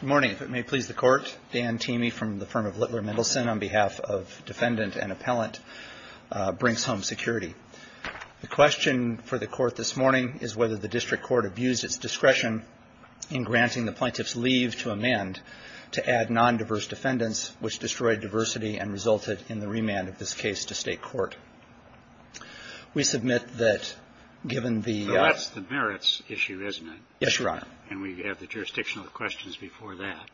Good morning. If it may please the Court, Dan Teamey from the firm of Littler Mendelsohn on behalf of Defendant and Appellant Brink's Home Security. The question for the Court this morning is whether the district court abused its discretion in granting the plaintiff's leave to amend to add non-diverse defendants, which destroyed diversity and resulted in the remand of this case to State court. We submit that given the... Well, that's the merits issue, isn't it? Yes, Your Honor. And we have the jurisdictional questions before that.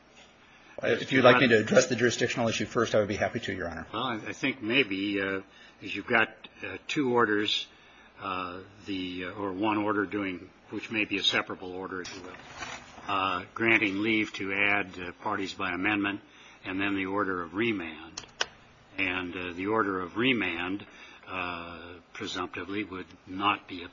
If you'd like me to address the jurisdictional issue first, I would be happy to, Your Honor. Well, I think maybe, because you've got two orders, the or one order doing, which may be a separable order, if you will, granting leave to add parties by amendment and then the order of remand. And the order of remand, presumptively, would not be a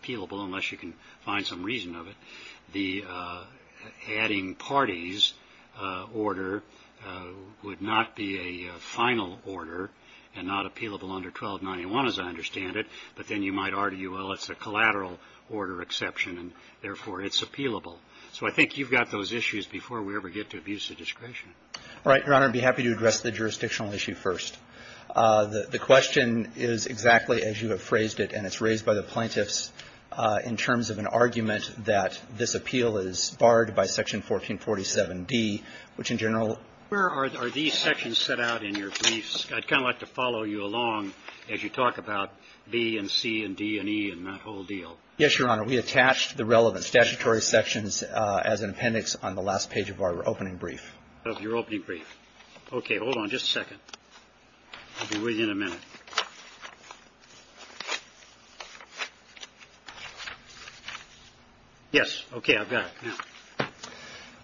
final order and not appealable under 1291, as I understand it. But then you might argue, well, it's a collateral order exception, and therefore, it's appealable. So I think you've got those issues before we ever get to abuse of discretion. All right, Your Honor. I'd be happy to address the jurisdictional issue first. The question is exactly as you have phrased it, and it's raised by the plaintiffs in terms of an argument that this appeal is barred by Section 1447d, which in general Where are these sections set out in your briefs? I'd kind of like to follow you along as you talk about B and C and D and E and that whole deal. Yes, Your Honor. We attached the relevant statutory sections as an appendix on the last page of our opening brief. Of your opening brief. Okay. Hold on just a second. I'll be with you in a minute. Yes. Okay. I've got it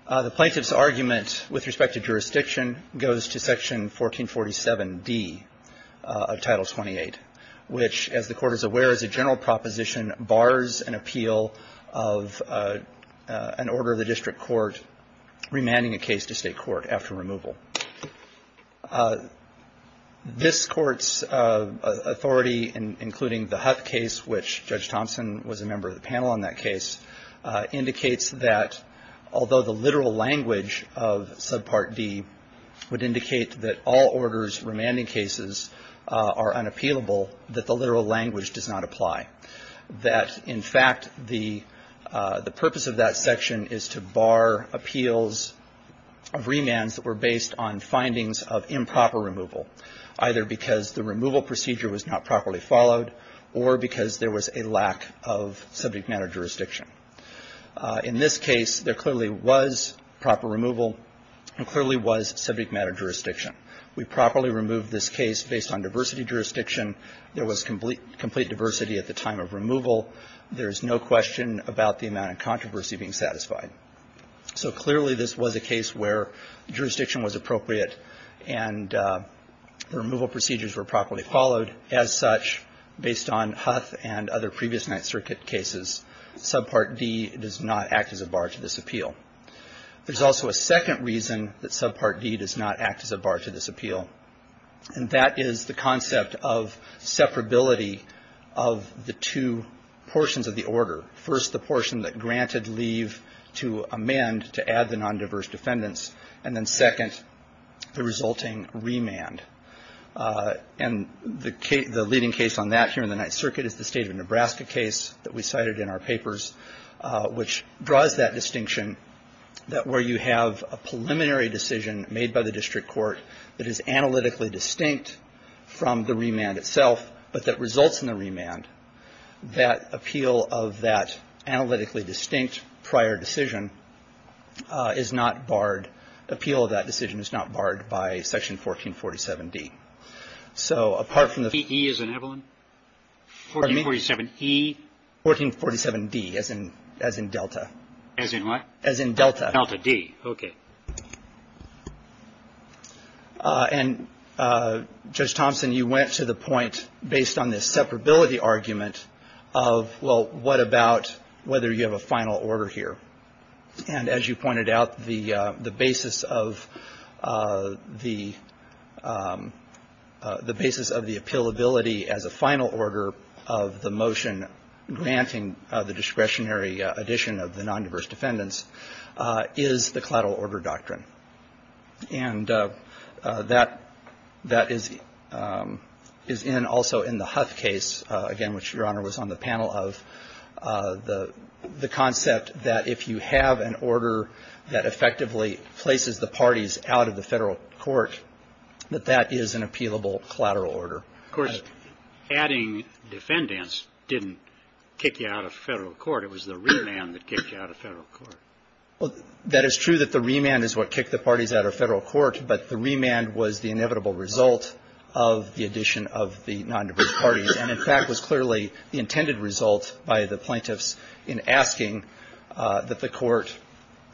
now. The plaintiff's argument with respect to jurisdiction goes to Section 1447d of Title 28, which, as the Court is aware, is a general proposition, bars an appeal of an order of the district court remanding a case to State court after removal. This Court's authority, including the Huth case, which Judge Thompson was a member of the panel on that case, indicates that although the literal language of Subpart D would indicate that all orders remanding cases are unappealable, that the literal language does not apply. That, in fact, the purpose of that section is to bar appeals of remands that were based on findings of improper removal, either because the removal procedure was not properly followed or because there was a lack of subject matter jurisdiction. In this case, there clearly was proper removal and clearly was subject matter jurisdiction. We properly removed this case based on diversity jurisdiction. There was complete diversity at the time of removal. There is no question about the fact that there was a case where jurisdiction was appropriate and the removal procedures were properly followed. As such, based on Huth and other previous Ninth Circuit cases, Subpart D does not act as a bar to this appeal. There's also a second reason that Subpart D does not act as a bar to this appeal, and that is the concept of separability of the two portions of the order. First, the portion that granted leave to amend to add the non-diverse defendants, and then, second, the resulting remand. And the leading case on that here in the Ninth Circuit is the State of Nebraska case that we cited in our papers, which draws that distinction that where you have a preliminary decision made by the district court that is analytically distinct from the remand itself, but that analytically distinct prior decision is not barred. Appeal of that decision is not barred by Section 1447D. So, apart from the... 1447E as in Evelyn? Pardon me? 1447E? 1447D as in Delta. As in what? As in Delta. Delta D. Okay. And Judge Thompson, you went to the point based on this separability argument of, well, what about whether you have a final order here? And as you pointed out, the basis of the... the basis of the appealability as a final order of the motion granting the discretionary addition of the non-diverse defendants is the collateral order doctrine. And that is in also in the Huth case, again, which Your Honor was on the panel of, the concept that if you have an order that effectively places the parties out of the federal court, that that is an appealable collateral order. Of course, adding defendants didn't kick you out of federal court. It was the remand that kicked you out of federal court. Well, that is true that the remand is what kicked the parties out of federal court. But the remand was the inevitable result of the addition of the non-diverse parties. And, in fact, was clearly the intended result by the plaintiffs in asking that the court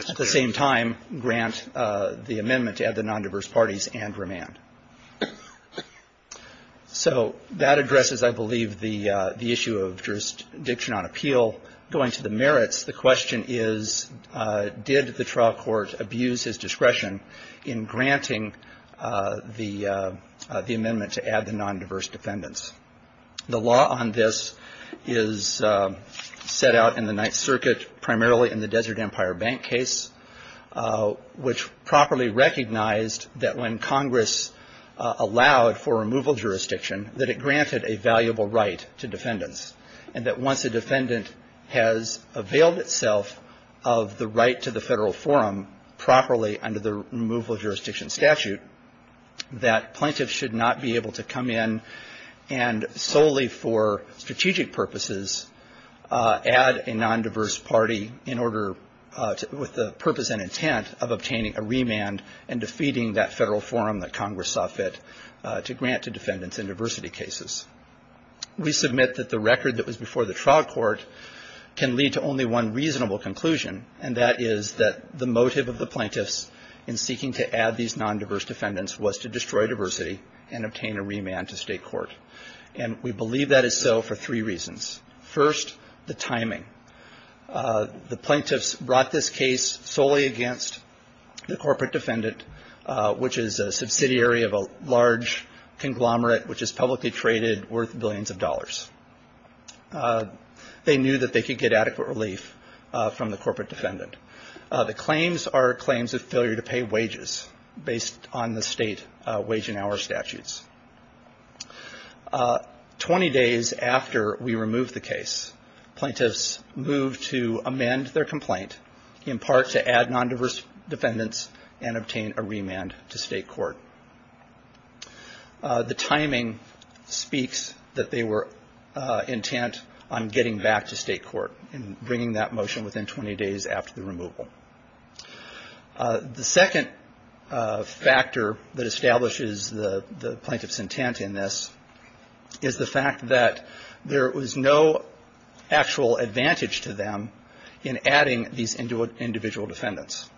at the same time grant the amendment to add the non-diverse parties and remand. So that addresses, I believe, the issue of jurisdiction on appeal. Going to the merits, the question is, did the trial court abuse his discretion in granting the amendment to add the non-diverse defendants? The law on this is set out in the Ninth Circuit, primarily in the Desert Empire Bank case, which properly recognized that when Congress allowed for removal of a non-diverse party, it has availed itself of the right to the federal forum properly under the removal of jurisdiction statute, that plaintiffs should not be able to come in and solely for strategic purposes add a non-diverse party in order with the purpose and intent of obtaining a remand and defeating that federal forum that Congress saw fit to grant to defendants in diversity cases. We submit that the record that was before the trial court can lead to only one reasonable conclusion, and that is that the motive of the plaintiffs in seeking to add these non-diverse defendants was to destroy diversity and obtain a remand to state court. And we believe that is so for three reasons. First, the timing. The plaintiffs brought this case solely against the corporate defendant, which is a subsidiary of a large conglomerate which is publicly traded worth billions of dollars. They knew that they could get adequate relief from the corporate defendant. The claims are claims of failure to pay wages based on the state wage and hour statutes. Twenty days after we removed the case, plaintiffs moved to amend their complaint, in part to add non-diverse defendants and obtain a remand to state court. The timing speaks that they were intent on getting back to state court and bringing that motion within 20 days after the removal. The second factor that establishes the plaintiff's intent in this is the fact that there was no actual advantage to them in adding these individual defendants.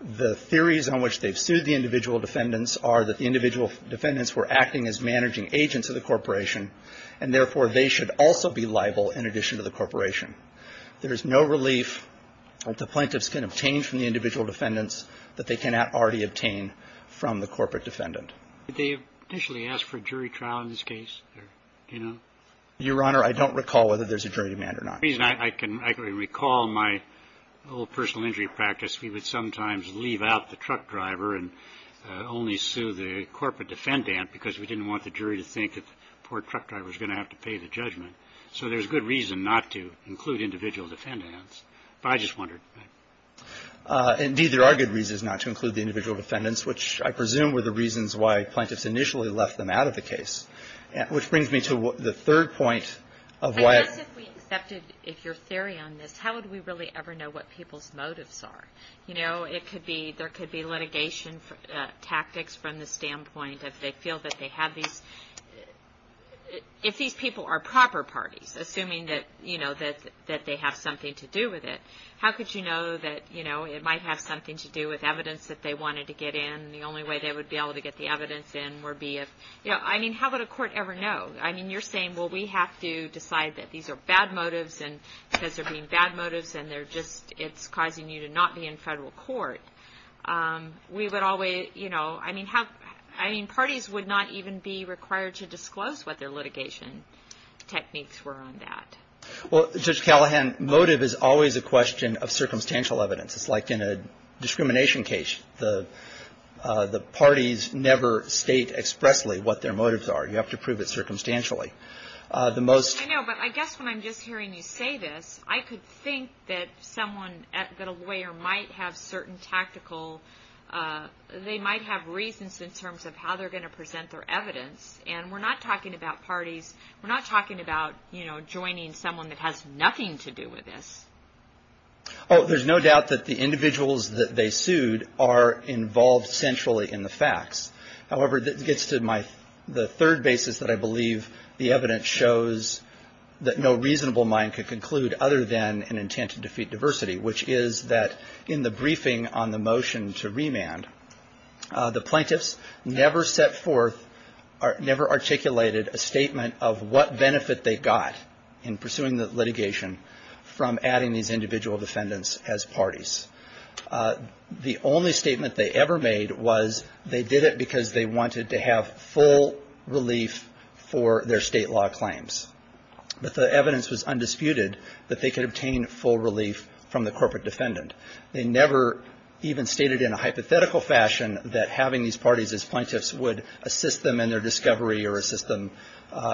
The theories on which they've sued the individual defendants are that the individual defendants were acting as managing agents of the corporation, and therefore, they should also be liable in addition to the corporation. There is no relief that the plaintiffs can obtain from the individual defendants that they cannot already obtain from the corporate defendant. Did they initially ask for a jury trial in this case? Your Honor, I don't recall whether there's a jury remand or not. I can recall my old personal injury practice. We would sometimes leave out the truck driver and only sue the corporate defendant because we didn't want the jury to think that the poor truck driver was going to have to pay the judgment. So there's good reason not to include individual defendants, but I just wondered. Indeed, there are good reasons not to include the individual defendants, which I presume were the reasons why plaintiffs initially left them out of the case, which brings me to the third point of why. I guess if we accepted your theory on this, how would we really ever know what people's motives are? You know, there could be litigation tactics from the standpoint of they feel that they have these... If these people are proper parties, assuming that they have something to do with it, how could you know that it might have something to do with evidence that they wanted to get in, and the only way they would be able to get the evidence in would be if... I mean, how would a court ever know? I mean, you're saying, well, we have to decide that these are bad in federal court. We would always... I mean, how... I mean, parties would not even be required to disclose what their litigation techniques were on that. Well, Judge Callahan, motive is always a question of circumstantial evidence. It's like in a discrimination case. The parties never state expressly what their motives are. You have to prove it circumstantially. The most... I know, but I guess when I'm just hearing you say this, I could think that someone... that a lawyer might have certain tactical... they might have reasons in terms of how they're going to present their evidence, and we're not talking about parties. We're not talking about, you know, joining someone that has nothing to do with this. Oh, there's no doubt that the individuals that they sued are involved centrally in the facts. However, it gets to my... the third basis that I believe the evidence shows that no reasonable mind could conclude other than an intent to defeat diversity, which is that in the briefing on the motion to remand, the plaintiffs never set forth... never articulated a statement of what benefit they got in pursuing the litigation from adding these individual defendants as parties. The only statement they ever made was they did it because they wanted to have full relief for their state law claims. But the evidence was undisputed that they could obtain full relief from the corporate defendant. They never even stated in a hypothetical fashion that having these parties as plaintiffs would assist them in their discovery or assist them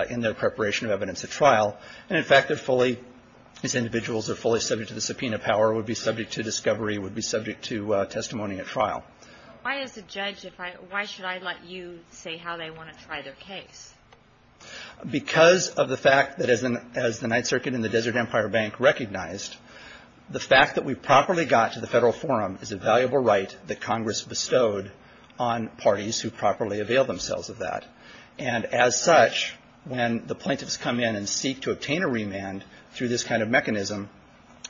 in their preparation of evidence at trial. And in fact, they're fully... these individuals are fully subject to the subpoena power, would be subject to discovery, would be subject to testimony at trial. Because of the fact that as the Ninth Circuit and the Desert Empire Bank recognized, the fact that we properly got to the Federal Forum is a valuable right that Congress bestowed on parties who properly avail themselves of that. And as such, when the plaintiffs come in and seek to obtain a remand through this kind of mechanism,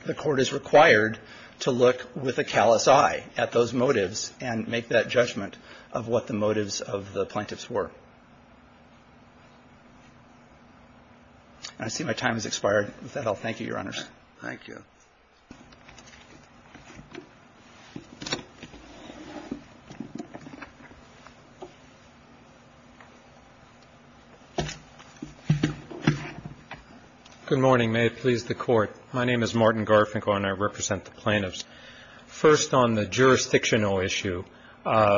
the Court is required to look with a callous eye at those motives and make that judgment of what the motives of the plaintiffs were. And I see my time has expired. With that, I'll thank you, Your Honors. Thank you. Good morning. May it please the Court. My name is Martin Garfinkel, and I represent the plaintiffs. First, on the jurisdictional issue,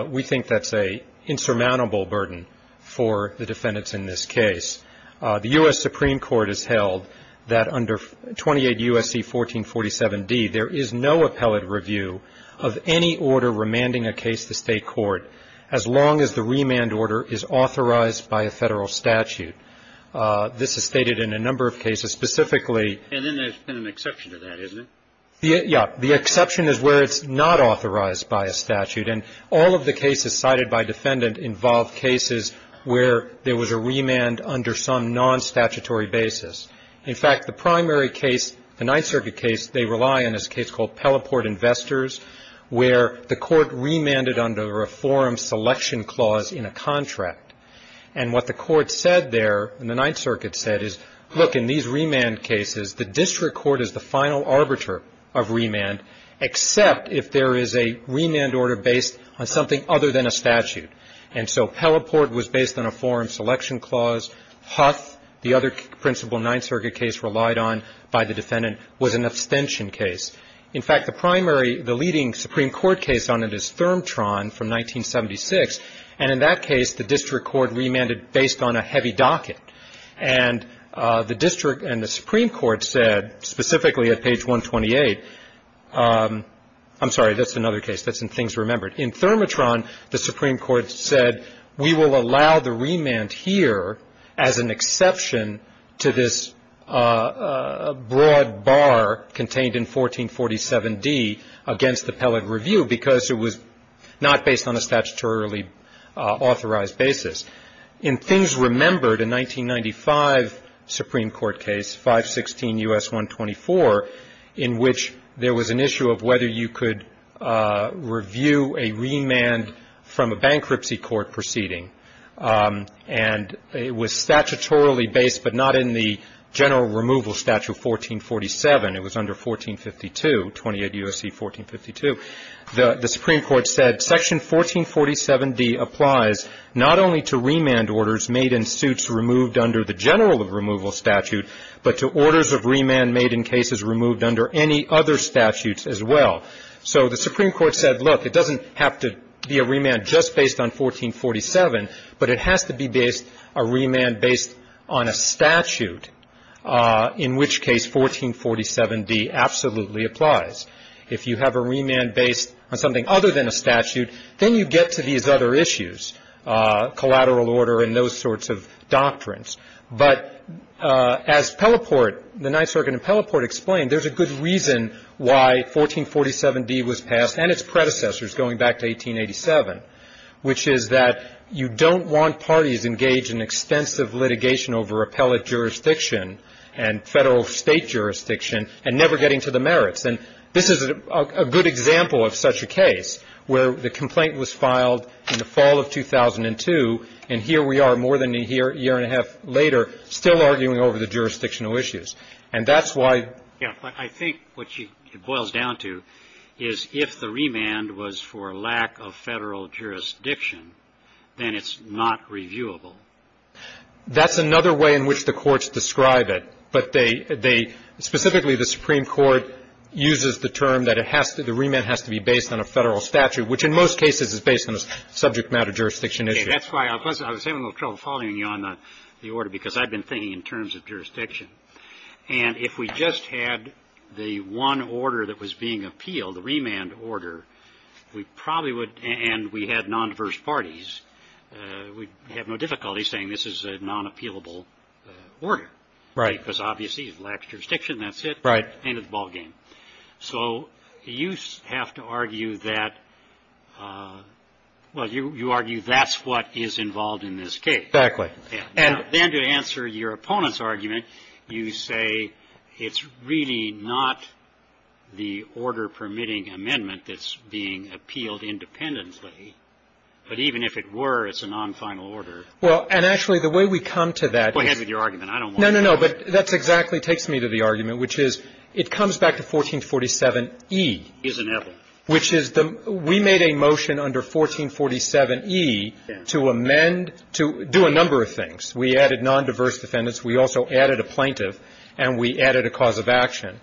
we think that's an insurmountable burden for the defendants in this case. The U.S. Supreme Court has held that under 28 U.S.C. 1447d, there is no appellate review of any order remanding a case to state court as long as the remand order is authorized by a Federal statute. This is stated in a number of cases, specifically — And then there's been an exception to that, isn't it? Yeah. The exception is where it's not authorized by a statute. And all of the cases cited by defendant involve cases where there was a remand under some non-statutory basis. In fact, the primary case, the Ninth Circuit case, they rely on is a case called Pelleport Investors, where the court remanded under a forum selection clause in a contract. And what the court said there, and the Ninth Circuit said, is, look, in these remand cases, the district court is the final arbiter of remand, except if there is a remand order based on something other than a statute. And so Pelleport was based on a forum selection clause. Huth, the other principal Ninth Circuit case relied on by the defendant, was an abstention case. In fact, the primary — the leading Supreme Court case on it is Thermotron from 1976. And in that case, the district court remanded based on a heavy docket. And the district and the Supreme Court said, specifically at page 128 — I'm sorry. That's another case. That's in Things Remembered. And in Thermotron, the Supreme Court said, we will allow the remand here as an exception to this broad bar contained in 1447D against appellate review because it was not based on a statutorily authorized basis. In Things Remembered, a 1995 Supreme Court case, 516 U.S. 124, in which there was an issue of whether you could review a remand from a bankruptcy court proceeding. And it was statutorily based, but not in the general removal statute of 1447. It was under 1452, 28 U.S.C. 1452. The Supreme Court said, Section 1447D applies not only to remand orders made in suits removed under the general removal statute, but to orders of remand made in cases removed under any other statutes as well. So the Supreme Court said, look, it doesn't have to be a remand just based on 1447, but it has to be based — a remand based on a statute, in which case 1447D absolutely applies. If you have a remand based on something other than a statute, then you get to these other issues, collateral order and those sorts of doctrines. But as Pelleport, the Ninth Circuit in Pelleport, explained, there's a good reason why 1447D was passed and its predecessors going back to 1887, which is that you don't want parties engaged in extensive litigation over appellate jurisdiction and Federal State jurisdiction and never getting to the merits. And this is a good example of such a case, where the complaint was filed in the fall of 2002, and here we are more than a year and a half later still arguing over the jurisdictional issues. And that's why — Yeah. I think what she boils down to is if the remand was for lack of Federal jurisdiction, then it's not reviewable. That's another way in which the courts describe it. But they — they — specifically the Supreme Court uses the term that it has to — the remand has to be based on a Federal statute, which in most cases is based on a subject matter jurisdiction issue. That's why I was having a little trouble following you on the order, because I've been thinking in terms of jurisdiction. And if we just had the one order that was being appealed, the remand order, we probably would — and we had non-diverse parties, we'd have no difficulty saying this is a non-appealable order. Right. Because obviously it lacks jurisdiction. That's it. Right. End of the ballgame. So you have to argue that — well, you argue that's what is involved in this case. Exactly. And then to answer your opponent's argument, you say it's really not the order-permitting amendment that's being appealed independently. But even if it were, it's a non-final order. Well, and actually, the way we come to that is — Go ahead with your argument. I don't want to — No, no, no. But that's exactly — takes me to the argument, which is it comes back to 1447E. It's inevitable. Which is the — we made a motion under 1447E to amend — to do a number of things. We added non-diverse defendants. We also added a plaintiff. And we added a cause of action.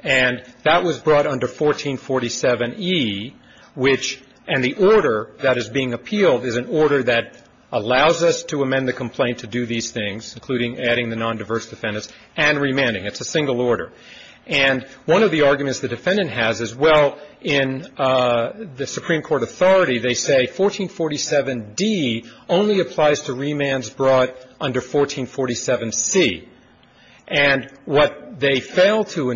And that was brought under 1447E, which — and the order that is being appealed is an order that allows us to amend the complaint to do these things, including adding the non-diverse defendants and remanding. It's a single order. And one of the arguments the defendant has is, well, in the Supreme Court authority, they say 1447D only applies to remands brought under 1447C. And what they fail to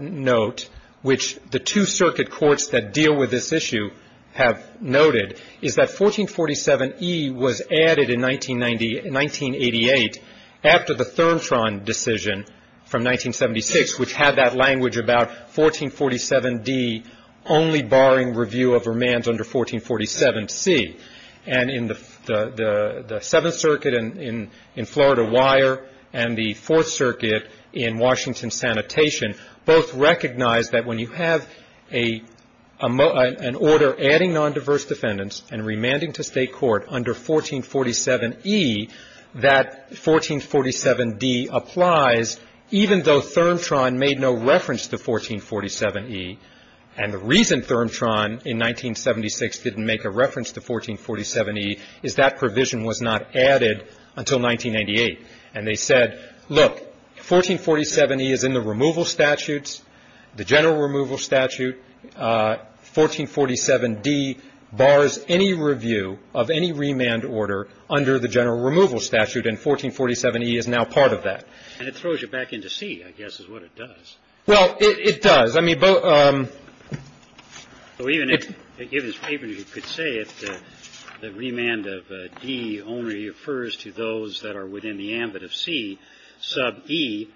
note, which the two circuit courts that deal with this issue have noted, is that 1447E was added in 1980 — 1988 after the ThermTron decision from 1976, which had that language about 1447D only barring review of remands under 1447C. And in the Seventh Circuit in Florida Wire and the Fourth Circuit in Washington Sanitation both recognized that when you have an order adding non-diverse defendants and remanding to state court under 1447E, that 1447D applies, even though ThermTron made no reference to 1447E. And the reason ThermTron in 1976 didn't make a reference to 1447E is that provision was not added until 1998. And they said, look, 1447E is in the removal statutes, the general removal statute. 1447D bars any review of any remand order under the general removal statute, and 1447E is now part of that. And it throws you back into C, I guess, is what it does. Well, it does. I mean, both — So even if, given this paper, you could say that the remand of D only refers to those that are within the ambit of C, sub E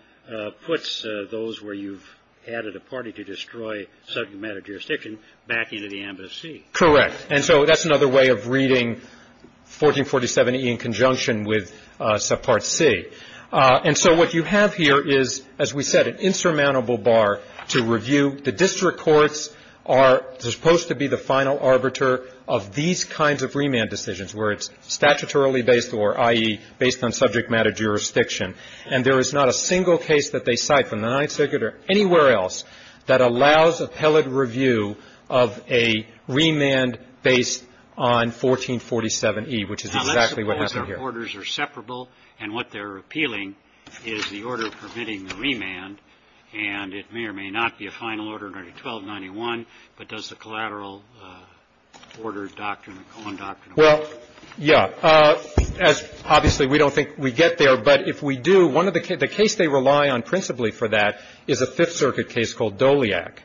puts those where you've added a party to destroy subject matter jurisdiction back into the ambit of C. Correct. And so that's another way of reading 1447E in conjunction with subpart C. And so what you have here is, as we said, an insurmountable bar to review. The district courts are supposed to be the final arbiter of these kinds of remand decisions, where it's statutorily based or, i.e., based on subject matter jurisdiction. And there is not a single case that they cite from the Ninth Circuit or anywhere else that allows appellate review of a remand based on 1447E, which is exactly what happened here. The orders are separable. And what they're appealing is the order permitting the remand. And it may or may not be a final order under 1291, but does the collateral order doctrine or colon doctrine apply? Well, yeah. As — obviously, we don't think we get there. But if we do, one of the — the case they rely on principally for that is a Fifth Circuit case called Doliak.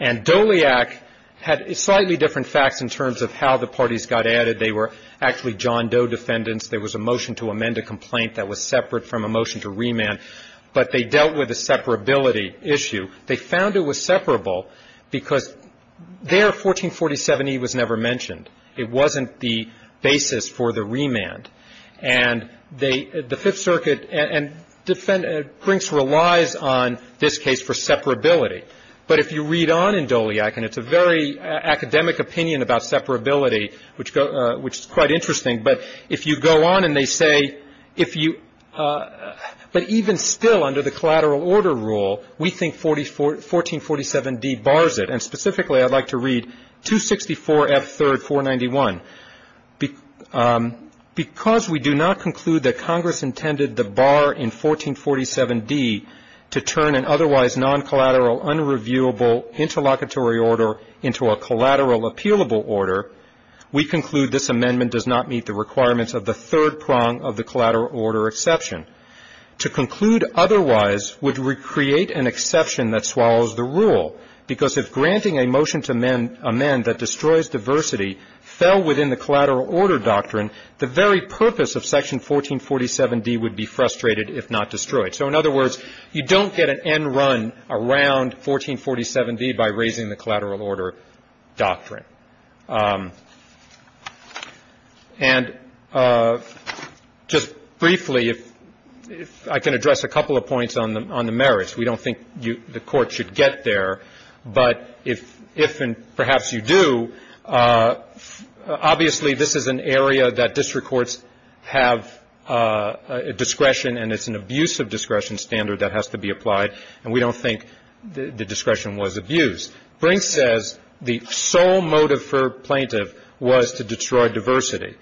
And Doliak had slightly different facts in terms of how the parties got added. They were actually John Doe defendants. There was a motion to amend a complaint that was separate from a motion to remand. But they dealt with a separability issue. They found it was separable because there, 1447E was never mentioned. It wasn't the basis for the remand. And they — the Fifth Circuit and — Brinks relies on this case for separability. But if you read on in Doliak, and it's a very academic opinion about separability, which is quite interesting, but if you go on and they say, if you — but even still under the collateral order rule, we think 1447D bars it. And specifically, I'd like to read 264F3, 491. Because we do not conclude that Congress intended the bar in 1447D to turn an otherwise non-collateral, unreviewable interlocutory order into a collateral appealable order, we conclude this amendment does not meet the requirements of the third prong of the collateral order exception. To conclude otherwise would create an exception that swallows the rule. Because if granting a motion to amend that destroys diversity fell within the collateral order doctrine, the very purpose of Section 1447D would be frustrated if not destroyed. So in other words, you don't get an end run around 1447D by raising the collateral order doctrine. And just briefly, if I can address a couple of points on the merits. We don't think the Court should get there. But if and perhaps you do, obviously this is an area that district courts have discretion and it's an abuse of discretion standard that has to be applied. And we don't think the discretion was abused. Brinks says the sole motive for plaintiff was to destroy diversity.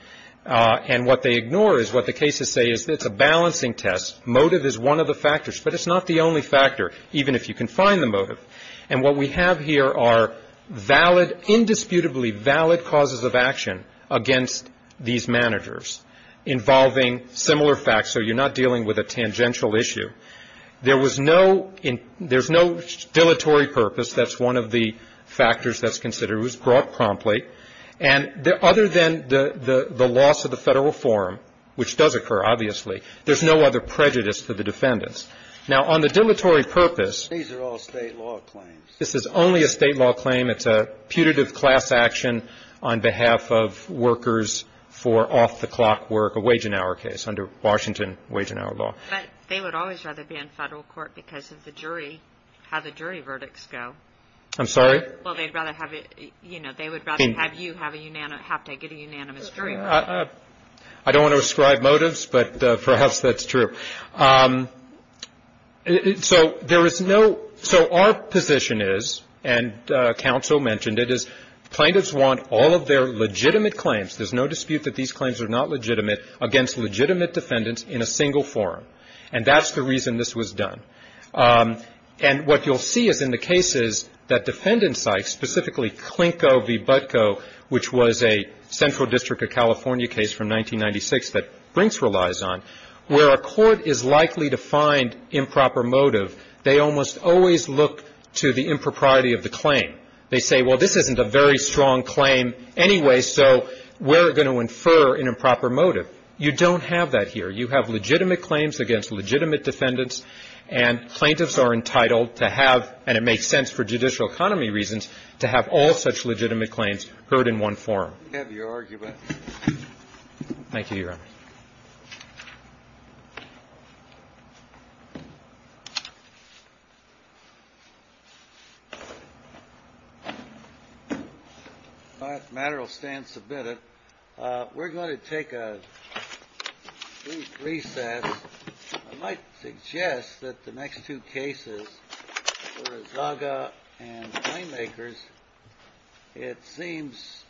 And what they ignore is what the cases say is it's a balancing test. Motive is one of the factors. But it's not the only factor, even if you can find the motive. And what we have here are valid, indisputably valid causes of action against these managers involving similar facts. So you're not dealing with a tangential issue. There was no dilatory purpose. That's one of the factors that's considered. It was brought promptly. And other than the loss of the federal forum, which does occur, obviously, there's no other prejudice to the defendants. Now, on the dilatory purpose. These are all state law claims. This is only a state law claim. It's a putative class action on behalf of workers for off-the-clock work, a wage and hour case under Washington wage and hour law. They would always rather be in federal court because of the jury, how the jury verdicts go. I'm sorry. Well, they'd rather have it. You know, they would rather have you have a unanimous have to get a unanimous jury. I don't want to ascribe motives, but perhaps that's true. So there is no. So our position is and counsel mentioned it is plaintiffs want all of their legitimate claims. There's no dispute that these claims are not legitimate against legitimate defendants in a single forum. And that's the reason this was done. And what you'll see is in the cases that defendants like specifically Klinko v. Butko, which was a central district of California case from 1996 that Brinks relies on where a court is likely to find improper motive. They almost always look to the impropriety of the claim. They say, well, this isn't a very strong claim anyway. So we're going to infer an improper motive. You don't have that here. You have legitimate claims against legitimate defendants and plaintiffs are entitled to have. And it makes sense for judicial economy reasons to have all such legitimate claims heard in one forum. Have your argument. Thank you. Thank you. We're going to take a recess. I might suggest that the next two cases. Gaga and filmmakers. It seems.